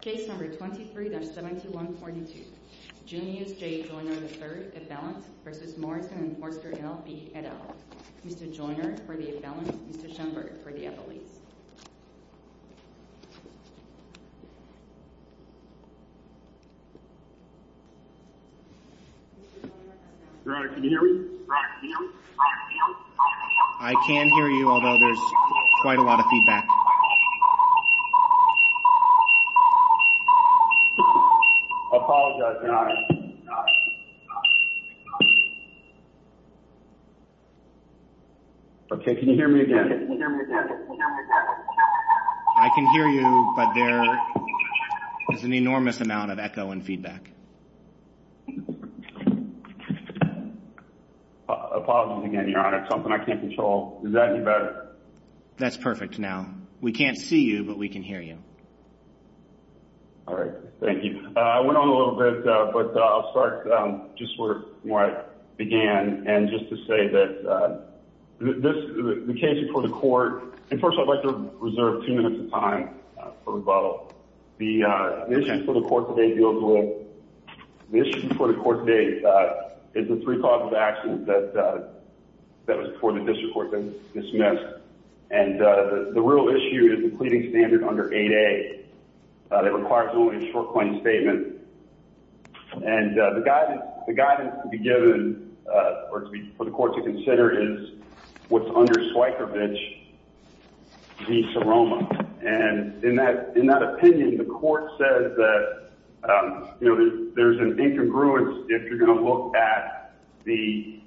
Case number 23-7142 Junius J. Joyner, III, Avalanche v. Morrison and Foerster LLP, et al. Mr. Joyner for the Avalanche, Mr. Schoenberg for the Avalanche. Roderick, can you hear me? I can hear you, although there's quite a lot of feedback. Apologize, Your Honor. Okay, can you hear me again? I can hear you, but there is an enormous amount of echo and feedback. Apologies again, Your Honor. It's something I can't control. Is that any better? That's perfect now. We can't see you, but we can hear you. All right, thank you. I went on a little bit, but I'll start just where I began. And just to say that this, the case before the court, and first I'd like to reserve two minutes of time for rebuttal. The issue before the court today deals with, the issue before the court today, is the three causes of accident that was before the district court was dismissed. And the real issue is the pleading standard under 8A that requires only a short claim statement. And the guidance to be given, or for the court to consider, is what's under Swykervich v. Seroma. And in that opinion, the court says that there's an incongruence if you're going to look at the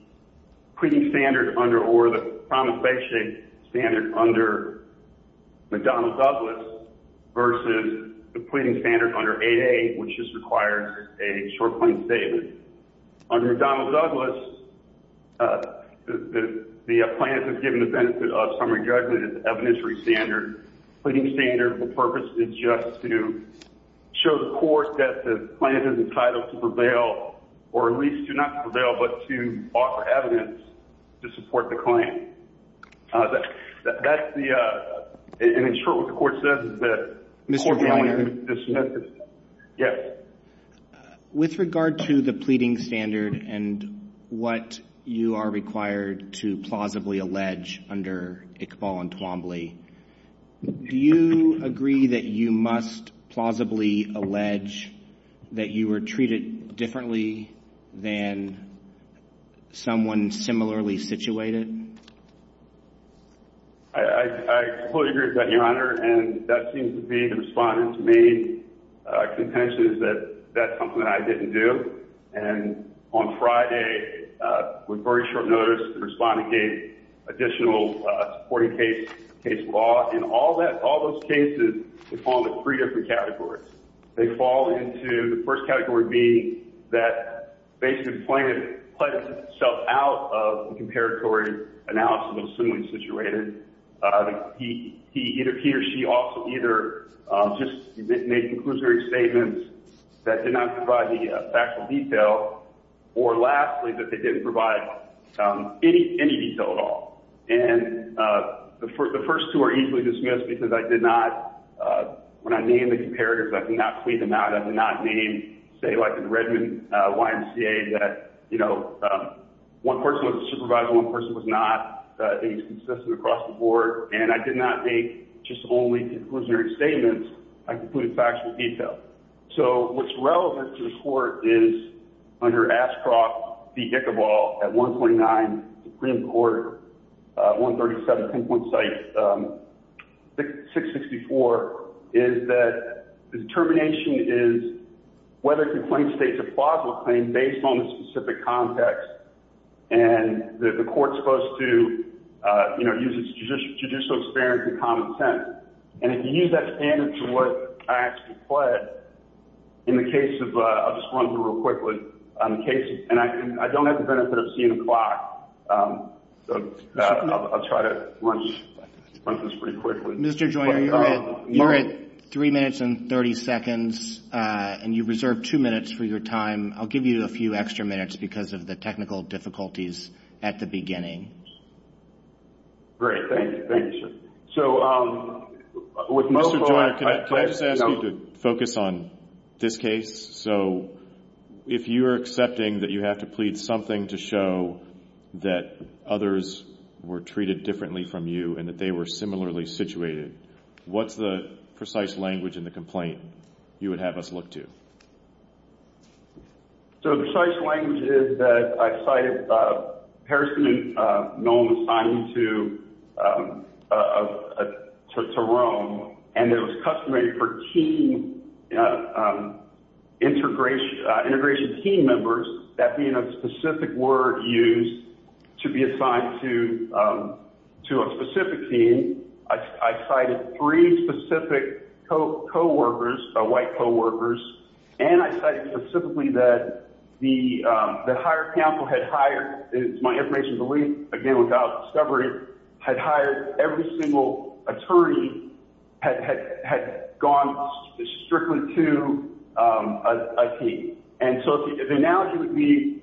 pleading standard under, or the promulgation standard under McDonnell-Douglas versus the pleading standard under 8A, which just requires a short claim statement. Under McDonnell-Douglas, the plaintiff is given the benefit of summary judgment as evidentiary standard. Pleading standard, the purpose is just to show the court that the plaintiff is entitled to prevail, or at least do not prevail, but to offer evidence to support the claim. That's the, and in short what the court says is that, Mr. Kleiner? Yes. With regard to the pleading standard and what you are required to plausibly allege under Iqbal and Twombly, do you agree that you must plausibly allege that you were treated differently than someone similarly situated? I completely agree with that, Your Honor. And that seems to be the respondent's main contention is that that's something that I didn't do. And on Friday, with very short notice, the respondent gave additional supporting case law. And all those cases, they fall into three different categories. They fall into the first category being that basically the plaintiff pledged himself out of the comparatory analysis of the similarly situated. He or she also either just made conclusionary statements that did not provide the factual detail, or lastly, that they didn't provide any detail at all. And the first two are easily dismissed because I did not, when I named the comparators, I did not plead them out. I did not name, say like in Redmond, YMCA, that, you know, one person was a supervisor, one person was not. It was consistent across the board. And I did not make just only conclusionary statements. I concluded factual detail. So what's relevant to the court is under Ashcroft v. Ichabal at 129 Supreme Court, 137 pinpoint site, 664, is that the determination is whether a complaint states a plausible claim based on the specific context. And the court's supposed to, you know, use its judicial experience and common sense. And if you use that standard to what I actually pled, in the case of, I'll just run through real quickly. In the case of, and I don't have the benefit of seeing the clock, so I'll try to run this pretty quickly. Mr. Joyner, you're at 3 minutes and 30 seconds, and you reserved 2 minutes for your time. I'll give you a few extra minutes because of the technical difficulties at the beginning. Great. Thank you. Thank you, sir. So with most of our- Mr. Joyner, can I just ask you to focus on this case? So if you're accepting that you have to plead something to show that others were treated differently from you and that they were similarly situated, what's the precise language in the complaint you would have us look to? So the precise language is that I cited Harrison and Nolan assigned to Rome, and it was customary for team integration team members, that being a specific word used to be assigned to a specific team. I cited three specific co-workers, white co-workers, and I cited specifically that the hired counsel had hired, and it's my information belief, again, without discovery, had hired every single attorney had gone strictly to a team. And so the analogy would be,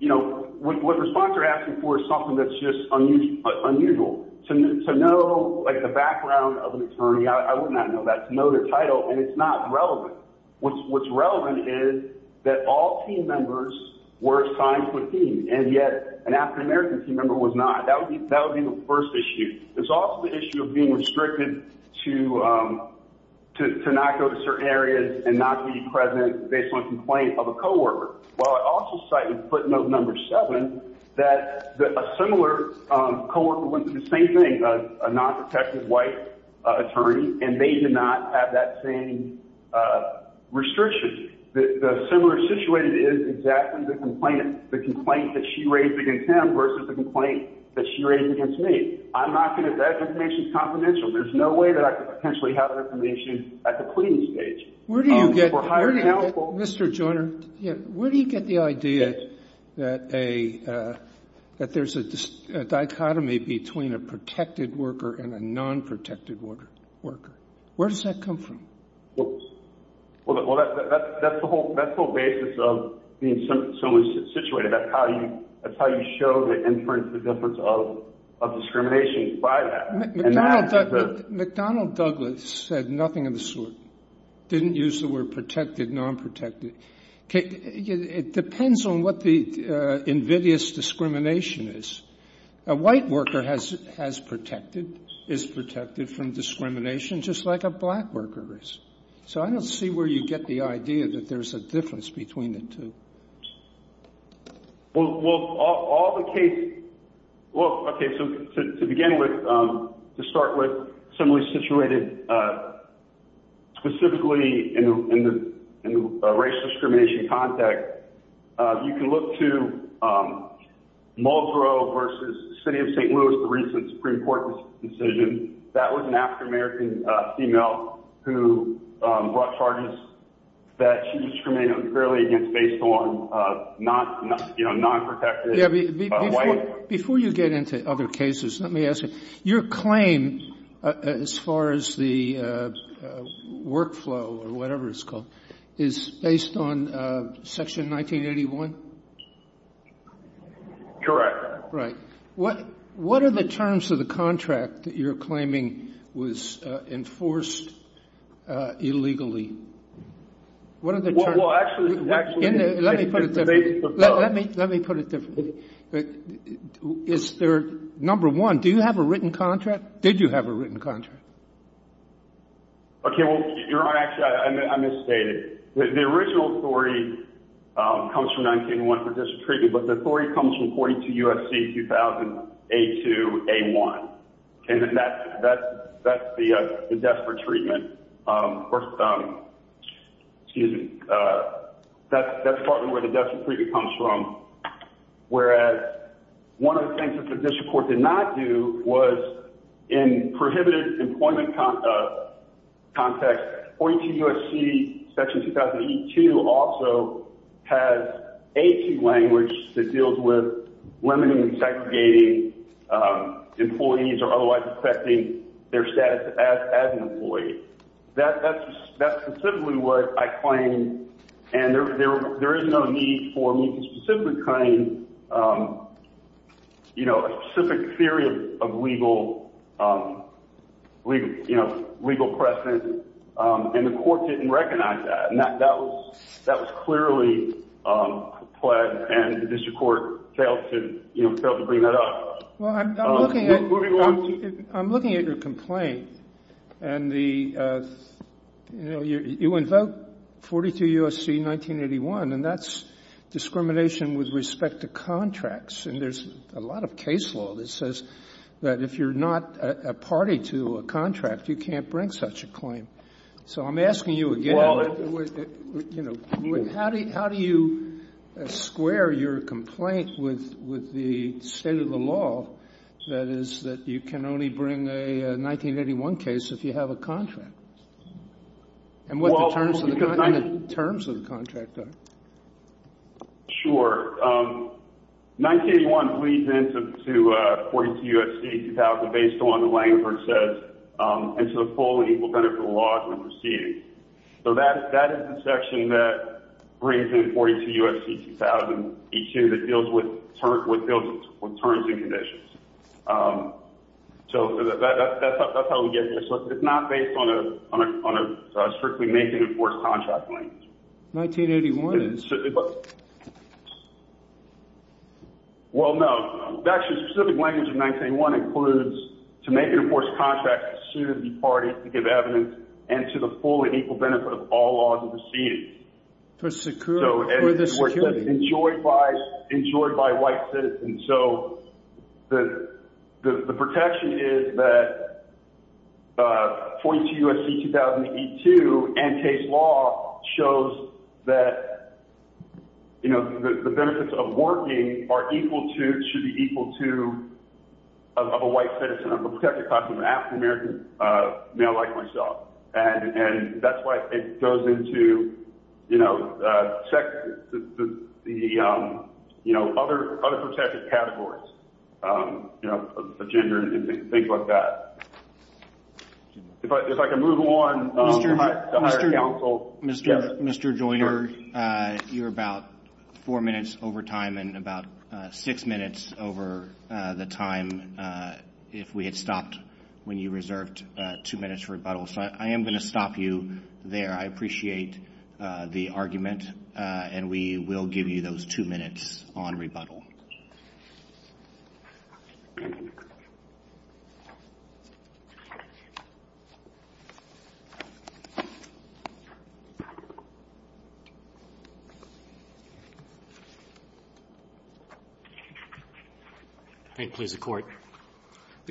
you know, what the sponsor is asking for is something that's just unusual. To know, like, the background of an attorney, I would not know that. To know their title, and it's not relevant. What's relevant is that all team members were assigned to a team, and yet an African-American team member was not. That would be the first issue. It's also the issue of being restricted to not go to certain areas and not be present based on a complaint of a co-worker. While I also cited footnote number seven, that a similar co-worker would do the same thing, a non-protective white attorney, and they did not have that same restriction. The similar situation is exactly the complainant, the complaint that she raised against him versus the complaint that she raised against me. I'm not going to – that information is confidential. There's no way that I could potentially have that information at the pleading stage. Where do you get – Mr. Joyner, where do you get the idea that there's a dichotomy between a protected worker and a non-protected worker? Where does that come from? Well, that's the whole basis of being similarly situated. That's how you show the difference of discrimination by that. McDonnell Douglas said nothing of the sort, didn't use the word protected, non-protected. It depends on what the invidious discrimination is. A white worker has protected, is protected from discrimination just like a black worker is. So I don't see where you get the idea that there's a difference between the two. Well, all the cases – well, okay, so to begin with, to start with, similarly situated specifically in the racial discrimination context, you can look to Mulgrew versus the city of St. Louis, the recent Supreme Court decision. That was an African-American female who brought charges that she was discriminated fairly against based on non-protected white workers. Before you get into other cases, let me ask you. Your claim as far as the workflow or whatever it's called is based on Section 1981? Correct. Right. What are the terms of the contract that you're claiming was enforced illegally? What are the terms? Well, actually – Let me put it differently. Let me put it differently. Is there – number one, do you have a written contract? Did you have a written contract? Okay, well, Your Honor, actually, I misstated. The original story comes from 1981 for district treatment, but the story comes from 42 U.S.C. 2000, A2, A1, and that's the death for treatment. First – excuse me. That's partly where the death for treatment comes from, whereas one of the things that the district court did not do was in prohibited employment context, 42 U.S.C. Section 2008-2 also has A2 language that deals with limiting and segregating employees or otherwise affecting their status as an employee. That's specifically what I claim, and there is no need for me to specifically claim a specific theory of legal precedent, and the court didn't recognize that. That was clearly pled, and the district court failed to bring that up. Well, I'm looking at your complaint, and the – you know, you invoke 42 U.S.C. 1981, and that's discrimination with respect to contracts, and there's a lot of case law that says that if you're not a party to a contract, you can't bring such a claim. So I'm asking you again, you know, how do you square your complaint with the state of the law that is that you can only bring a 1981 case if you have a contract? And what the terms of the contract are. Sure. 1981 leads into 42 U.S.C. 2000 based on the language that says, and to the full and equal benefit of the law as we proceed. So that is the section that brings in 42 U.S.C. 2000, A2, that deals with terms and conditions. So that's how we get there. So it's not based on a strictly make-and-enforce contract language. 1981 is? Well, no. Actually, the specific language of 1981 includes to make-and-enforce contracts as soon as the parties give evidence and to the full and equal benefit of all laws as we proceed. For security. Ensured by white citizens. So the protection is that 42 U.S.C. 2000 A2 and case law shows that, you know, the benefits of working are equal to, should be equal to, of a white citizen. I'm a protected class of African-American male like myself. And that's why it goes into, you know, check the, you know, other protected categories, you know, of gender and things like that. If I can move on. Mr. Joyner, you're about four minutes over time and about six minutes over the time if we had stopped when you reserved two minutes for rebuttal. So I am going to stop you there. I appreciate the argument. And we will give you those two minutes on rebuttal. The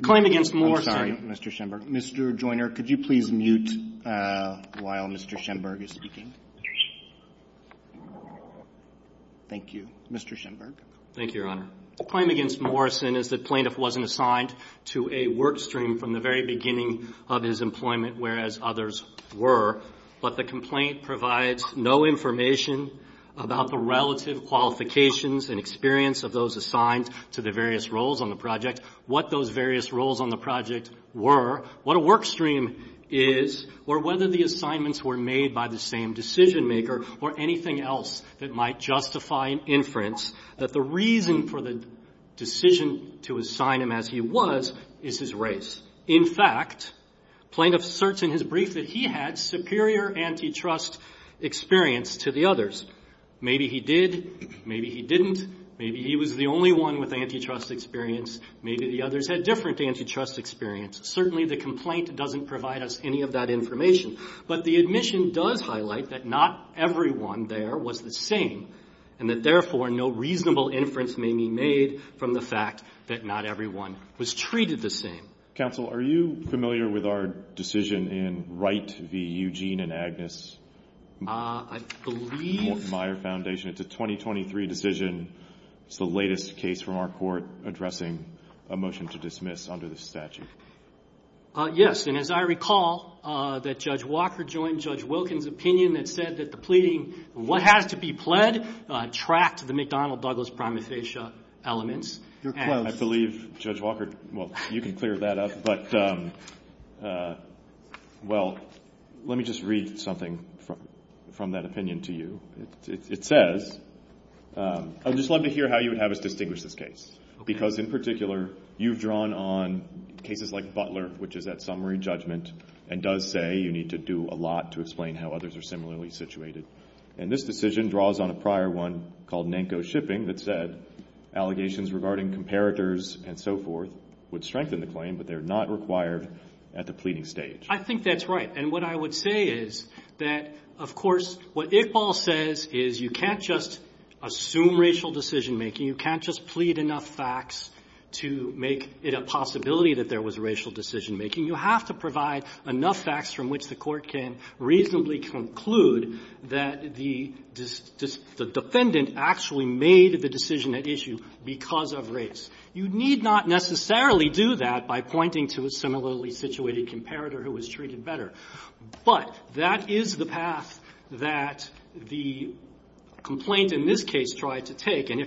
claim against Morrison. I'm sorry, Mr. Schenberg. Mr. Joyner, could you please mute while Mr. Schenberg is speaking? Thank you. Mr. Schenberg. Thank you, Your Honor. The claim against Morrison is that plaintiff wasn't assigned to a work stream from the very beginning of his employment, whereas others were. But the complaint provides no information about the relative qualifications and experience of those assigned to the various roles on the project, what those various roles on the project were, what a work stream is, or whether the assignments were made by the same decision maker or anything else that might justify an inference that the reason for the decision to assign him as he was is his race. In fact, plaintiff asserts in his brief that he had superior antitrust experience to the others. Maybe he did. Maybe he didn't. Maybe he was the only one with antitrust experience. Maybe the others had different antitrust experience. Certainly, the complaint doesn't provide us any of that information. But the admission does highlight that not everyone there was the same and that, therefore, no reasonable inference may be made from the fact that not everyone was treated the same. Counsel, are you familiar with our decision in Wright v. Eugene and Agnes? I believe- Morton Meier Foundation. It's a 2023 decision. It's the latest case from our court addressing a motion to dismiss under this statute. Yes, and as I recall, that Judge Walker joined Judge Wilkins' opinion that said that the pleading, what has to be pled, tracked the McDonnell-Douglas-Prometheus elements. You're close. Well, I believe Judge Walker – well, you can clear that up. But, well, let me just read something from that opinion to you. It says, I would just love to hear how you would have us distinguish this case because, in particular, you've drawn on cases like Butler, which is that summary judgment, and does say you need to do a lot to explain how others are similarly situated. And this decision draws on a prior one called Nanko Shipping that said allegations regarding comparators and so forth would strengthen the claim, but they're not required at the pleading stage. I think that's right. And what I would say is that, of course, what Iqbal says is you can't just assume racial decision-making. You can't just plead enough facts to make it a possibility that there was racial decision-making. You have to provide enough facts from which the Court can reasonably conclude that the defendant actually made the decision at issue because of race. You need not necessarily do that by pointing to a similarly situated comparator who was treated better. But that is the path that the complaint in this case tried to take. You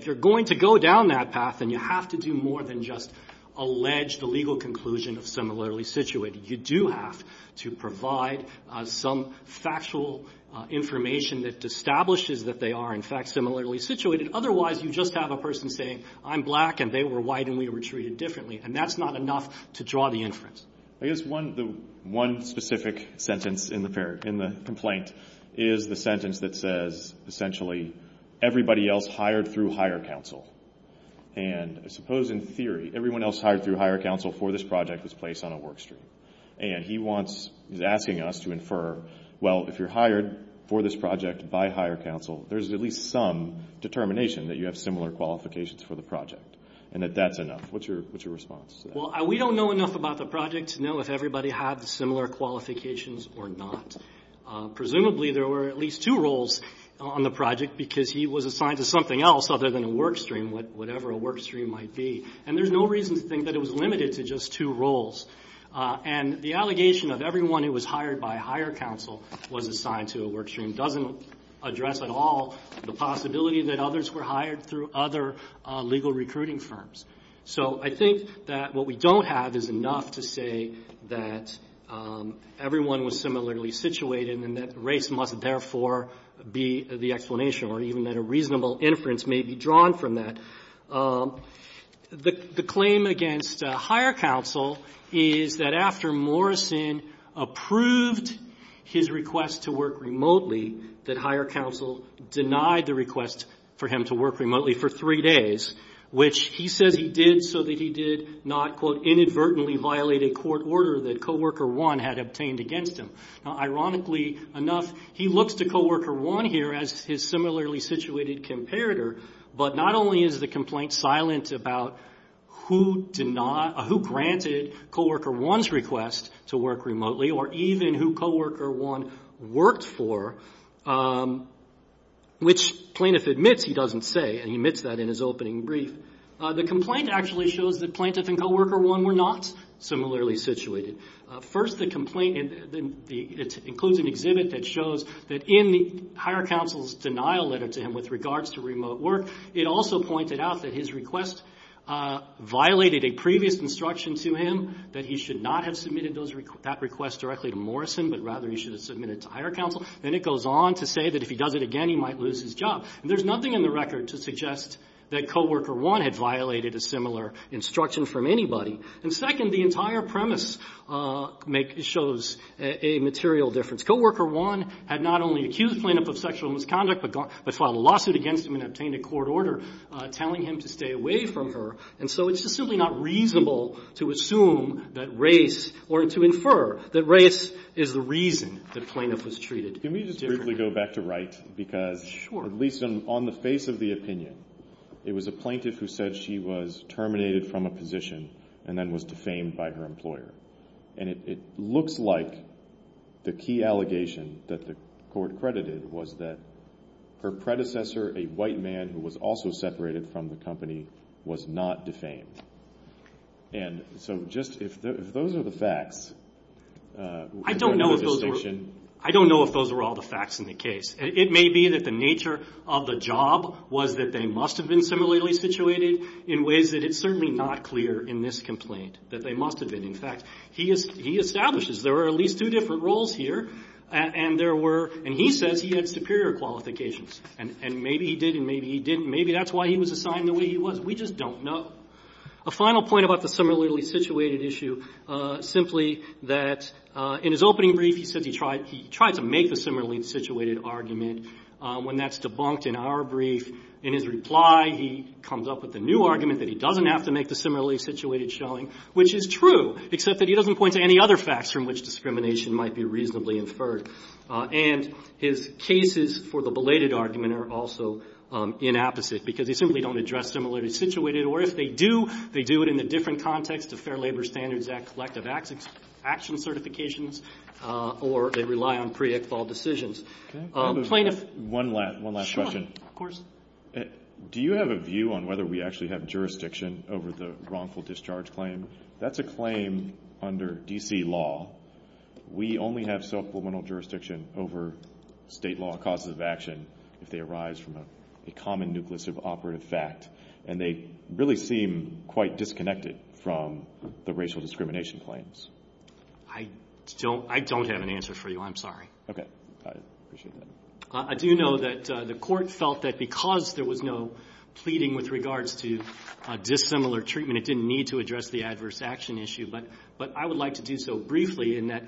do have to provide some factual information that establishes that they are, in fact, similarly situated. Otherwise, you just have a person saying, I'm black and they were white and we were treated differently. And that's not enough to draw the inference. I guess one specific sentence in the complaint is the sentence that says, essentially, everybody else hired through higher counsel. And I suppose, in theory, everyone else hired through higher counsel for this project was placed on a work stream. And he wants – he's asking us to infer, well, if you're hired for this project by higher counsel, there's at least some determination that you have similar qualifications for the project and that that's enough. What's your response to that? Well, we don't know enough about the project to know if everybody had similar qualifications or not. Presumably, there were at least two roles on the project because he was assigned to something else other than a work stream, whatever a work stream might be. And there's no reason to think that it was limited to just two roles. And the allegation of everyone who was hired by higher counsel was assigned to a work stream doesn't address at all the possibility that others were hired through other legal recruiting firms. So I think that what we don't have is enough to say that everyone was similarly situated and that race must therefore be the explanation or even that a reasonable inference may be drawn from that. The claim against higher counsel is that after Morrison approved his request to work remotely, that higher counsel denied the request for him to work remotely for three days, which he says he did so that he did not, quote, inadvertently violate a court order that coworker one had obtained against him. Now, ironically enough, he looks to coworker one here as his similarly situated comparator, but not only is the complaint silent about who granted coworker one's request to work remotely or even who coworker one worked for, which plaintiff admits he doesn't say, and he admits that in his opening brief. The complaint actually shows that plaintiff and coworker one were not similarly situated. First, the complaint includes an exhibit that shows that in the higher counsel's denial letter to him with regards to remote work, it also pointed out that his request violated a previous instruction to him that he should not have submitted that request directly to Morrison, but rather he should have submitted it to higher counsel. Then it goes on to say that if he does it again, he might lose his job. And there's nothing in the record to suggest that coworker one had violated a similar instruction from anybody. And second, the entire premise shows a material difference. Coworker one had not only accused plaintiff of sexual misconduct, but filed a lawsuit against him and obtained a court order telling him to stay away from her. And so it's just simply not reasonable to assume that race or to infer that race is the reason that plaintiff was treated differently. I want to briefly go back to Wright because at least on the face of the opinion, it was a plaintiff who said she was terminated from a position and then was defamed by her employer. And it looks like the key allegation that the court credited was that her predecessor, a white man who was also separated from the company, was not defamed. And so just if those are the facts. I don't know if those are all the facts in the case. It may be that the nature of the job was that they must have been similarly situated in ways that it's certainly not clear in this complaint, that they must have been. In fact, he establishes there are at least two different roles here. And he says he had superior qualifications. And maybe he did and maybe he didn't. Maybe that's why he was assigned the way he was. We just don't know. A final point about the similarly situated issue, simply that in his opening brief, he said he tried to make the similarly situated argument. When that's debunked in our brief, in his reply, he comes up with a new argument that he doesn't have to make the similarly situated showing, which is true, except that he doesn't point to any other facts from which discrimination might be reasonably inferred. And his cases for the belated argument are also inapposite, because they simply don't address similarly situated. Or if they do, they do it in the different context of Fair Labor Standards Act collective action certifications, or they rely on pre-ex vault decisions. Plaintiff? One last question. Of course. Do you have a view on whether we actually have jurisdiction over the wrongful discharge claim? That's a claim under D.C. law. We only have supplemental jurisdiction over state law causes of action if they arise from a common nucleus of operative fact. And they really seem quite disconnected from the racial discrimination claims. I don't have an answer for you. I'm sorry. Okay. I appreciate that. I do know that the Court felt that because there was no pleading with regards to dissimilar treatment, it didn't need to address the adverse action issue. But I would like to do so briefly, in that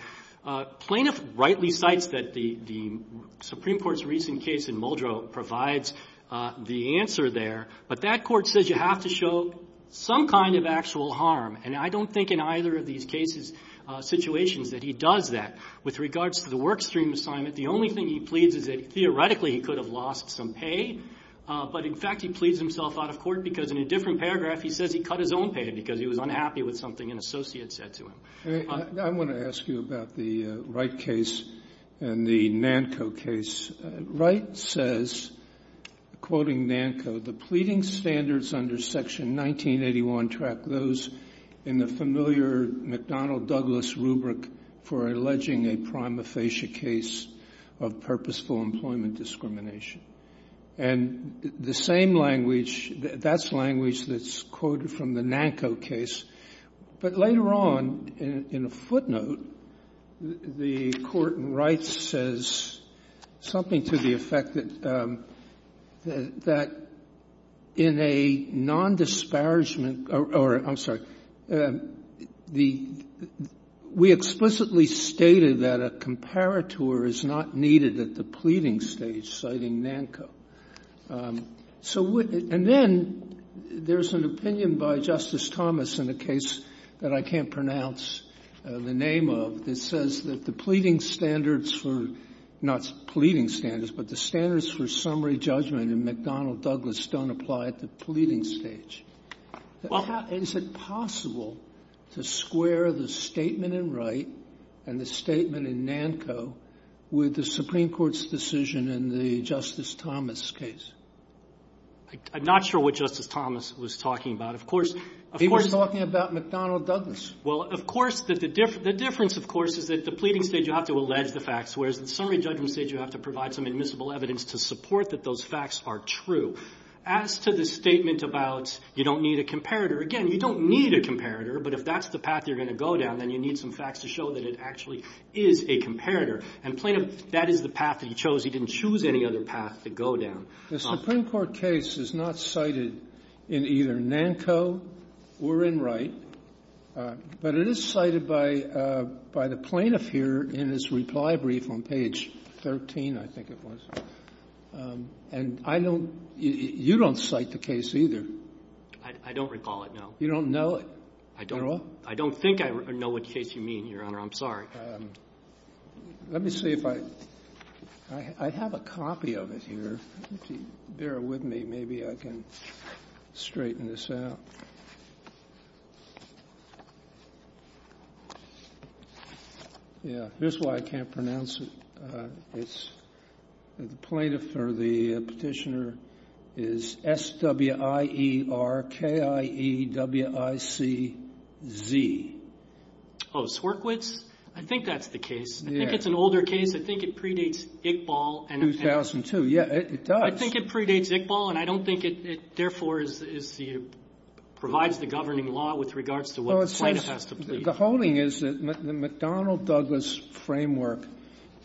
plaintiff rightly cites that the Supreme Court's recent case in Muldrow provides the answer there. But that court says you have to show some kind of actual harm. And I don't think in either of these cases, situations, that he does that. With regards to the work stream assignment, the only thing he pleads is that theoretically he could have lost some pay. But, in fact, he pleads himself out of court because in a different paragraph he says he cut his own pay because he was unhappy with something an associate said to him. I want to ask you about the Wright case and the NANCO case. Wright says, quoting NANCO, the pleading standards under section 1981 track those in the familiar McDonnell-Douglas rubric for alleging a prima facie case of purposeful employment discrimination. And the same language, that's language that's quoted from the NANCO case. But later on, in a footnote, the court in Wright says something to the effect that in a nondisparagement or, I'm sorry, the we explicitly stated that a comparator is not needed at the pleading stage, citing NANCO. And then there's an opinion by Justice Thomas in a case that I can't pronounce the name of that says that the pleading standards for, not pleading standards, but the standards for summary judgment in McDonnell-Douglas don't apply at the pleading stage. Is it possible to square the statement in Wright and the statement in NANCO with the Supreme Court's decision in the Justice Thomas case? I'm not sure what Justice Thomas was talking about. Of course he was talking about McDonnell-Douglas. Well, of course, the difference, of course, is at the pleading stage you have to allege the facts, whereas at the summary judgment stage you have to provide some admissible evidence to support that those facts are true. As to the statement about you don't need a comparator, again, you don't need a comparator, but if that's the path you're going to go down, then you need some facts to show that it actually is a comparator. And plaintiff, that is the path that he chose. He didn't choose any other path to go down. The Supreme Court case is not cited in either NANCO or in Wright, but it is cited by the plaintiff here in his reply brief on page 13, I think it was. And I don't — you don't cite the case either. I don't recall it, no. You don't know it at all? I don't think I know what case you mean, Your Honor. I'm sorry. Let me see if I — I have a copy of it here. If you bear with me, maybe I can straighten this out. Yeah. Here's why I can't pronounce it. It's — the plaintiff or the Petitioner is S-W-I-E-R-K-I-E-W-I-C-Z. Oh, Swerkiewicz? I think that's the case. Yeah. I think it's an older case. I think it predates Iqbal. 2002. Yeah, it does. I think it predates Iqbal, and I don't think it, therefore, is the — provides the governing law with regards to what the plaintiff has to plead. Well, it says — the holding is that the McDonnell-Douglas framework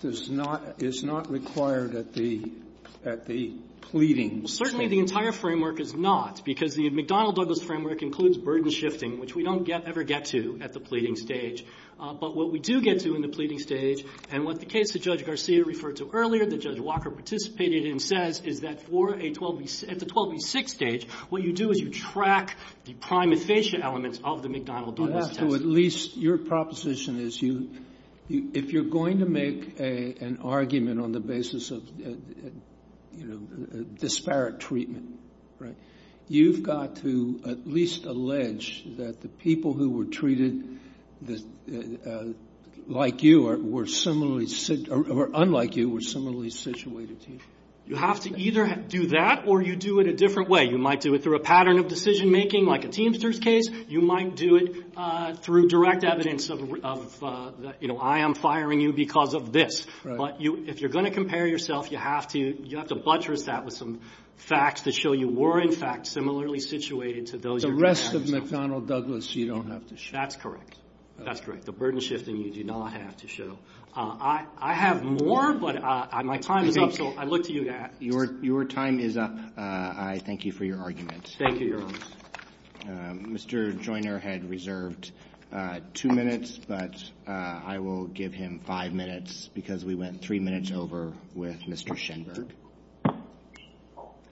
does not — is not required at the — at the pleading stage. Well, certainly the entire framework is not, because the McDonnell-Douglas framework includes burden shifting, which we don't ever get to at the pleading stage. But what we do get to in the pleading stage, and what the case that Judge Garcia referred to earlier, that Judge Walker participated in, says, is that for a 12B — at the 12B-6 stage, what you do is you track the primate fascia elements of the McDonnell-Douglas test. I have to at least — your proposition is you — if you're going to make an argument on the basis of, you know, disparate treatment, right, you've got to at least allege that the people who were treated like you were similarly — or unlike you were similarly situated to you. You have to either do that or you do it a different way. You might do it through a pattern of decision-making, like a Teamsters case. You might do it through direct evidence of, you know, I am firing you because of this. Right. But you — if you're going to compare yourself, you have to — you have to buttress that with some facts to show you were, in fact, similarly situated to those — The rest of McDonnell-Douglas you don't have to show. That's correct. That's correct. The burden shifting you do not have to show. I have more, but my time is up, so I look to you, Dad. Your time is up. I thank you for your argument. Thank you, Your Honor. Mr. Joyner had reserved two minutes, but I will give him five minutes because we went three minutes over with Mr. Schenberg.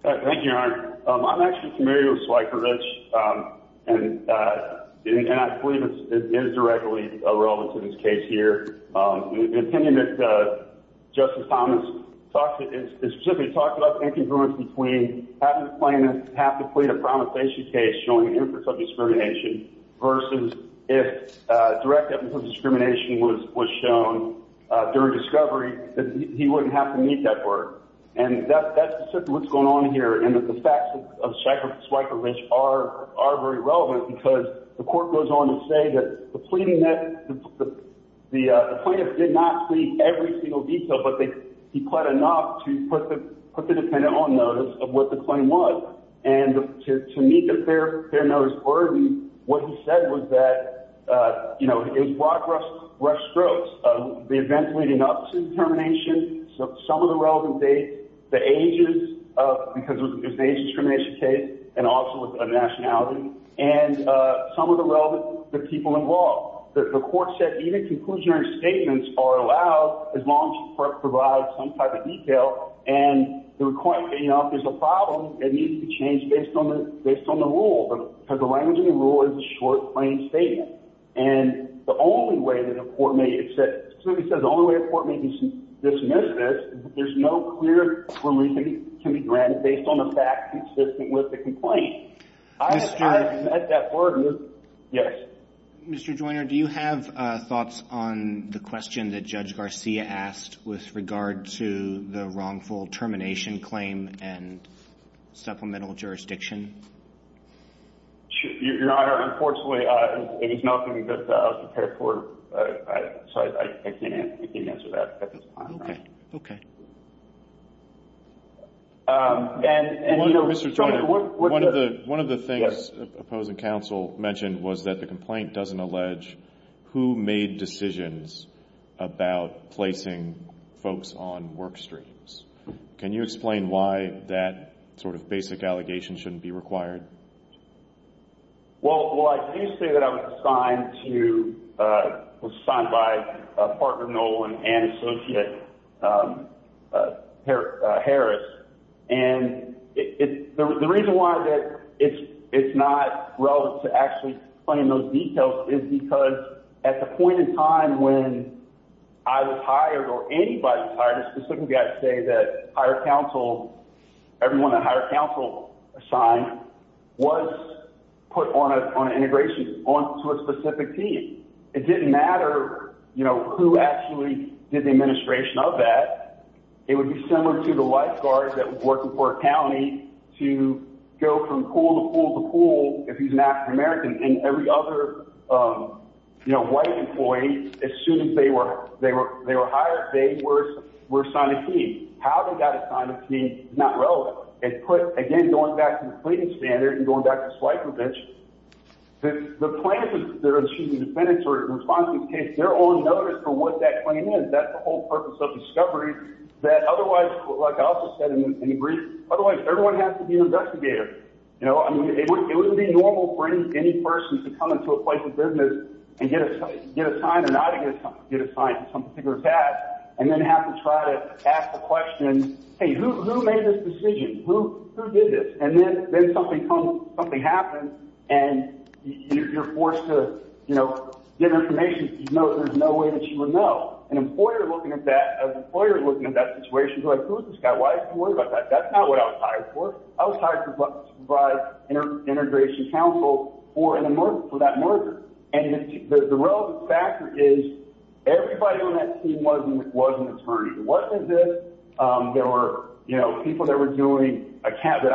Thank you, Your Honor. I'm actually familiar with Slykervich, and I believe it is directly relevant to this case here. The opinion that Justice Thomas talked — specifically talked about the incongruence between having a plaintiff have to plead a promissation case showing evidence of discrimination versus if direct evidence of discrimination was shown during discovery, he wouldn't have to meet that burden. And that's specifically what's going on here. And the facts of Slykervich are very relevant because the court goes on to say that the plaintiff did not plead every single detail, but he pled enough to put the defendant on notice of what the claim was. And to meet the fair notice burden, what he said was that, you know, it was broad-brush strokes. The events leading up to the termination, some of the relevant dates, the ages because it was an age discrimination case and also with a nationality, and some of the relevant people involved. The court said even conclusionary statements are allowed as long as you provide some type of detail. And the requirement — you know, if there's a problem, it needs to change based on the rule because the language of the rule is a short, plain statement. And the only way that a court may — Slykervich says the only way a court may dismiss this is if there's no clear reason to be granted based on the fact consistent with the complaint. I have met that burden. Mr. Joyner, do you have thoughts on the question that Judge Garcia asked with regard to the wrongful termination claim and supplemental jurisdiction? Your Honor, unfortunately, it is nothing that I was prepared for. So I can't answer that at this time. Okay. Okay. Mr. Joyner, one of the things opposing counsel mentioned was that the complaint doesn't allege who made decisions about placing folks on work streams. Can you explain why that sort of basic allegation shouldn't be required? Well, I do say that I was assigned to — was assigned by a partner, Nolan, and Associate Harris. And the reason why it's not relevant to actually explain those details is because at the point in time when I was hired or anybody was hired, it specifically has to say that higher counsel — everyone that higher counsel assigned was put on an integration, on to a specific team. It didn't matter, you know, who actually did the administration of that. It would be similar to the lifeguard that was working for a county to go from pool to pool to pool if he's an African-American. And every other, you know, white employee, as soon as they were hired, they were assigned a team. How they got assigned a team is not relevant. It put — again, going back to the Clayton standard and going back to They're on notice for what that claim is. That's the whole purpose of discovery. That otherwise, like I also said in brief, otherwise everyone has to be an investigator. You know, I mean, it wouldn't be normal for any person to come into a place of business and get assigned or not get assigned to some particular task and then have to try to ask the question, hey, who made this decision? Who did this? And then something happens and you're forced to, you know, get information. There's no way that you would know. An employer looking at that, an employer looking at that situation is like, who is this guy? Why is he worried about that? That's not what I was hired for. I was hired to provide integration counsel for that merger. And the relevant factor is everybody on that team was an attorney. It wasn't this. There were, you know, people that were doing accounting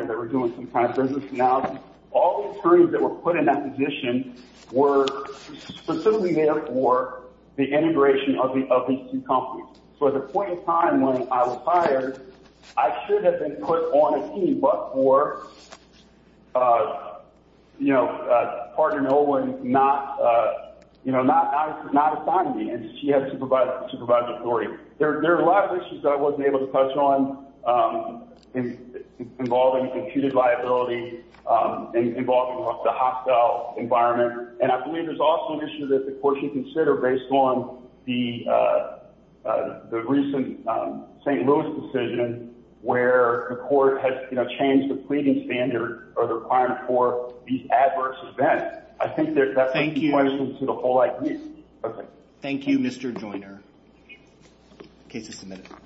or that were doing some kind of business analysis. All the attorneys that were put in that position were specifically there for the integration of these two companies. So at the point in time when I was hired, I should have been put on a team but for, you know, partner Nolan not, you know, not assigning me and she had to provide the authority. There are a lot of issues that I wasn't able to touch on involving computed liability and involving the hostile environment. And I believe there's also an issue that the court should consider based on the recent St. Louis decision where the court has, you know, changed the pleading standard or the requirement for these adverse events. I think that's a question to the whole IP. Thank you, Mr. Joyner. Case is submitted.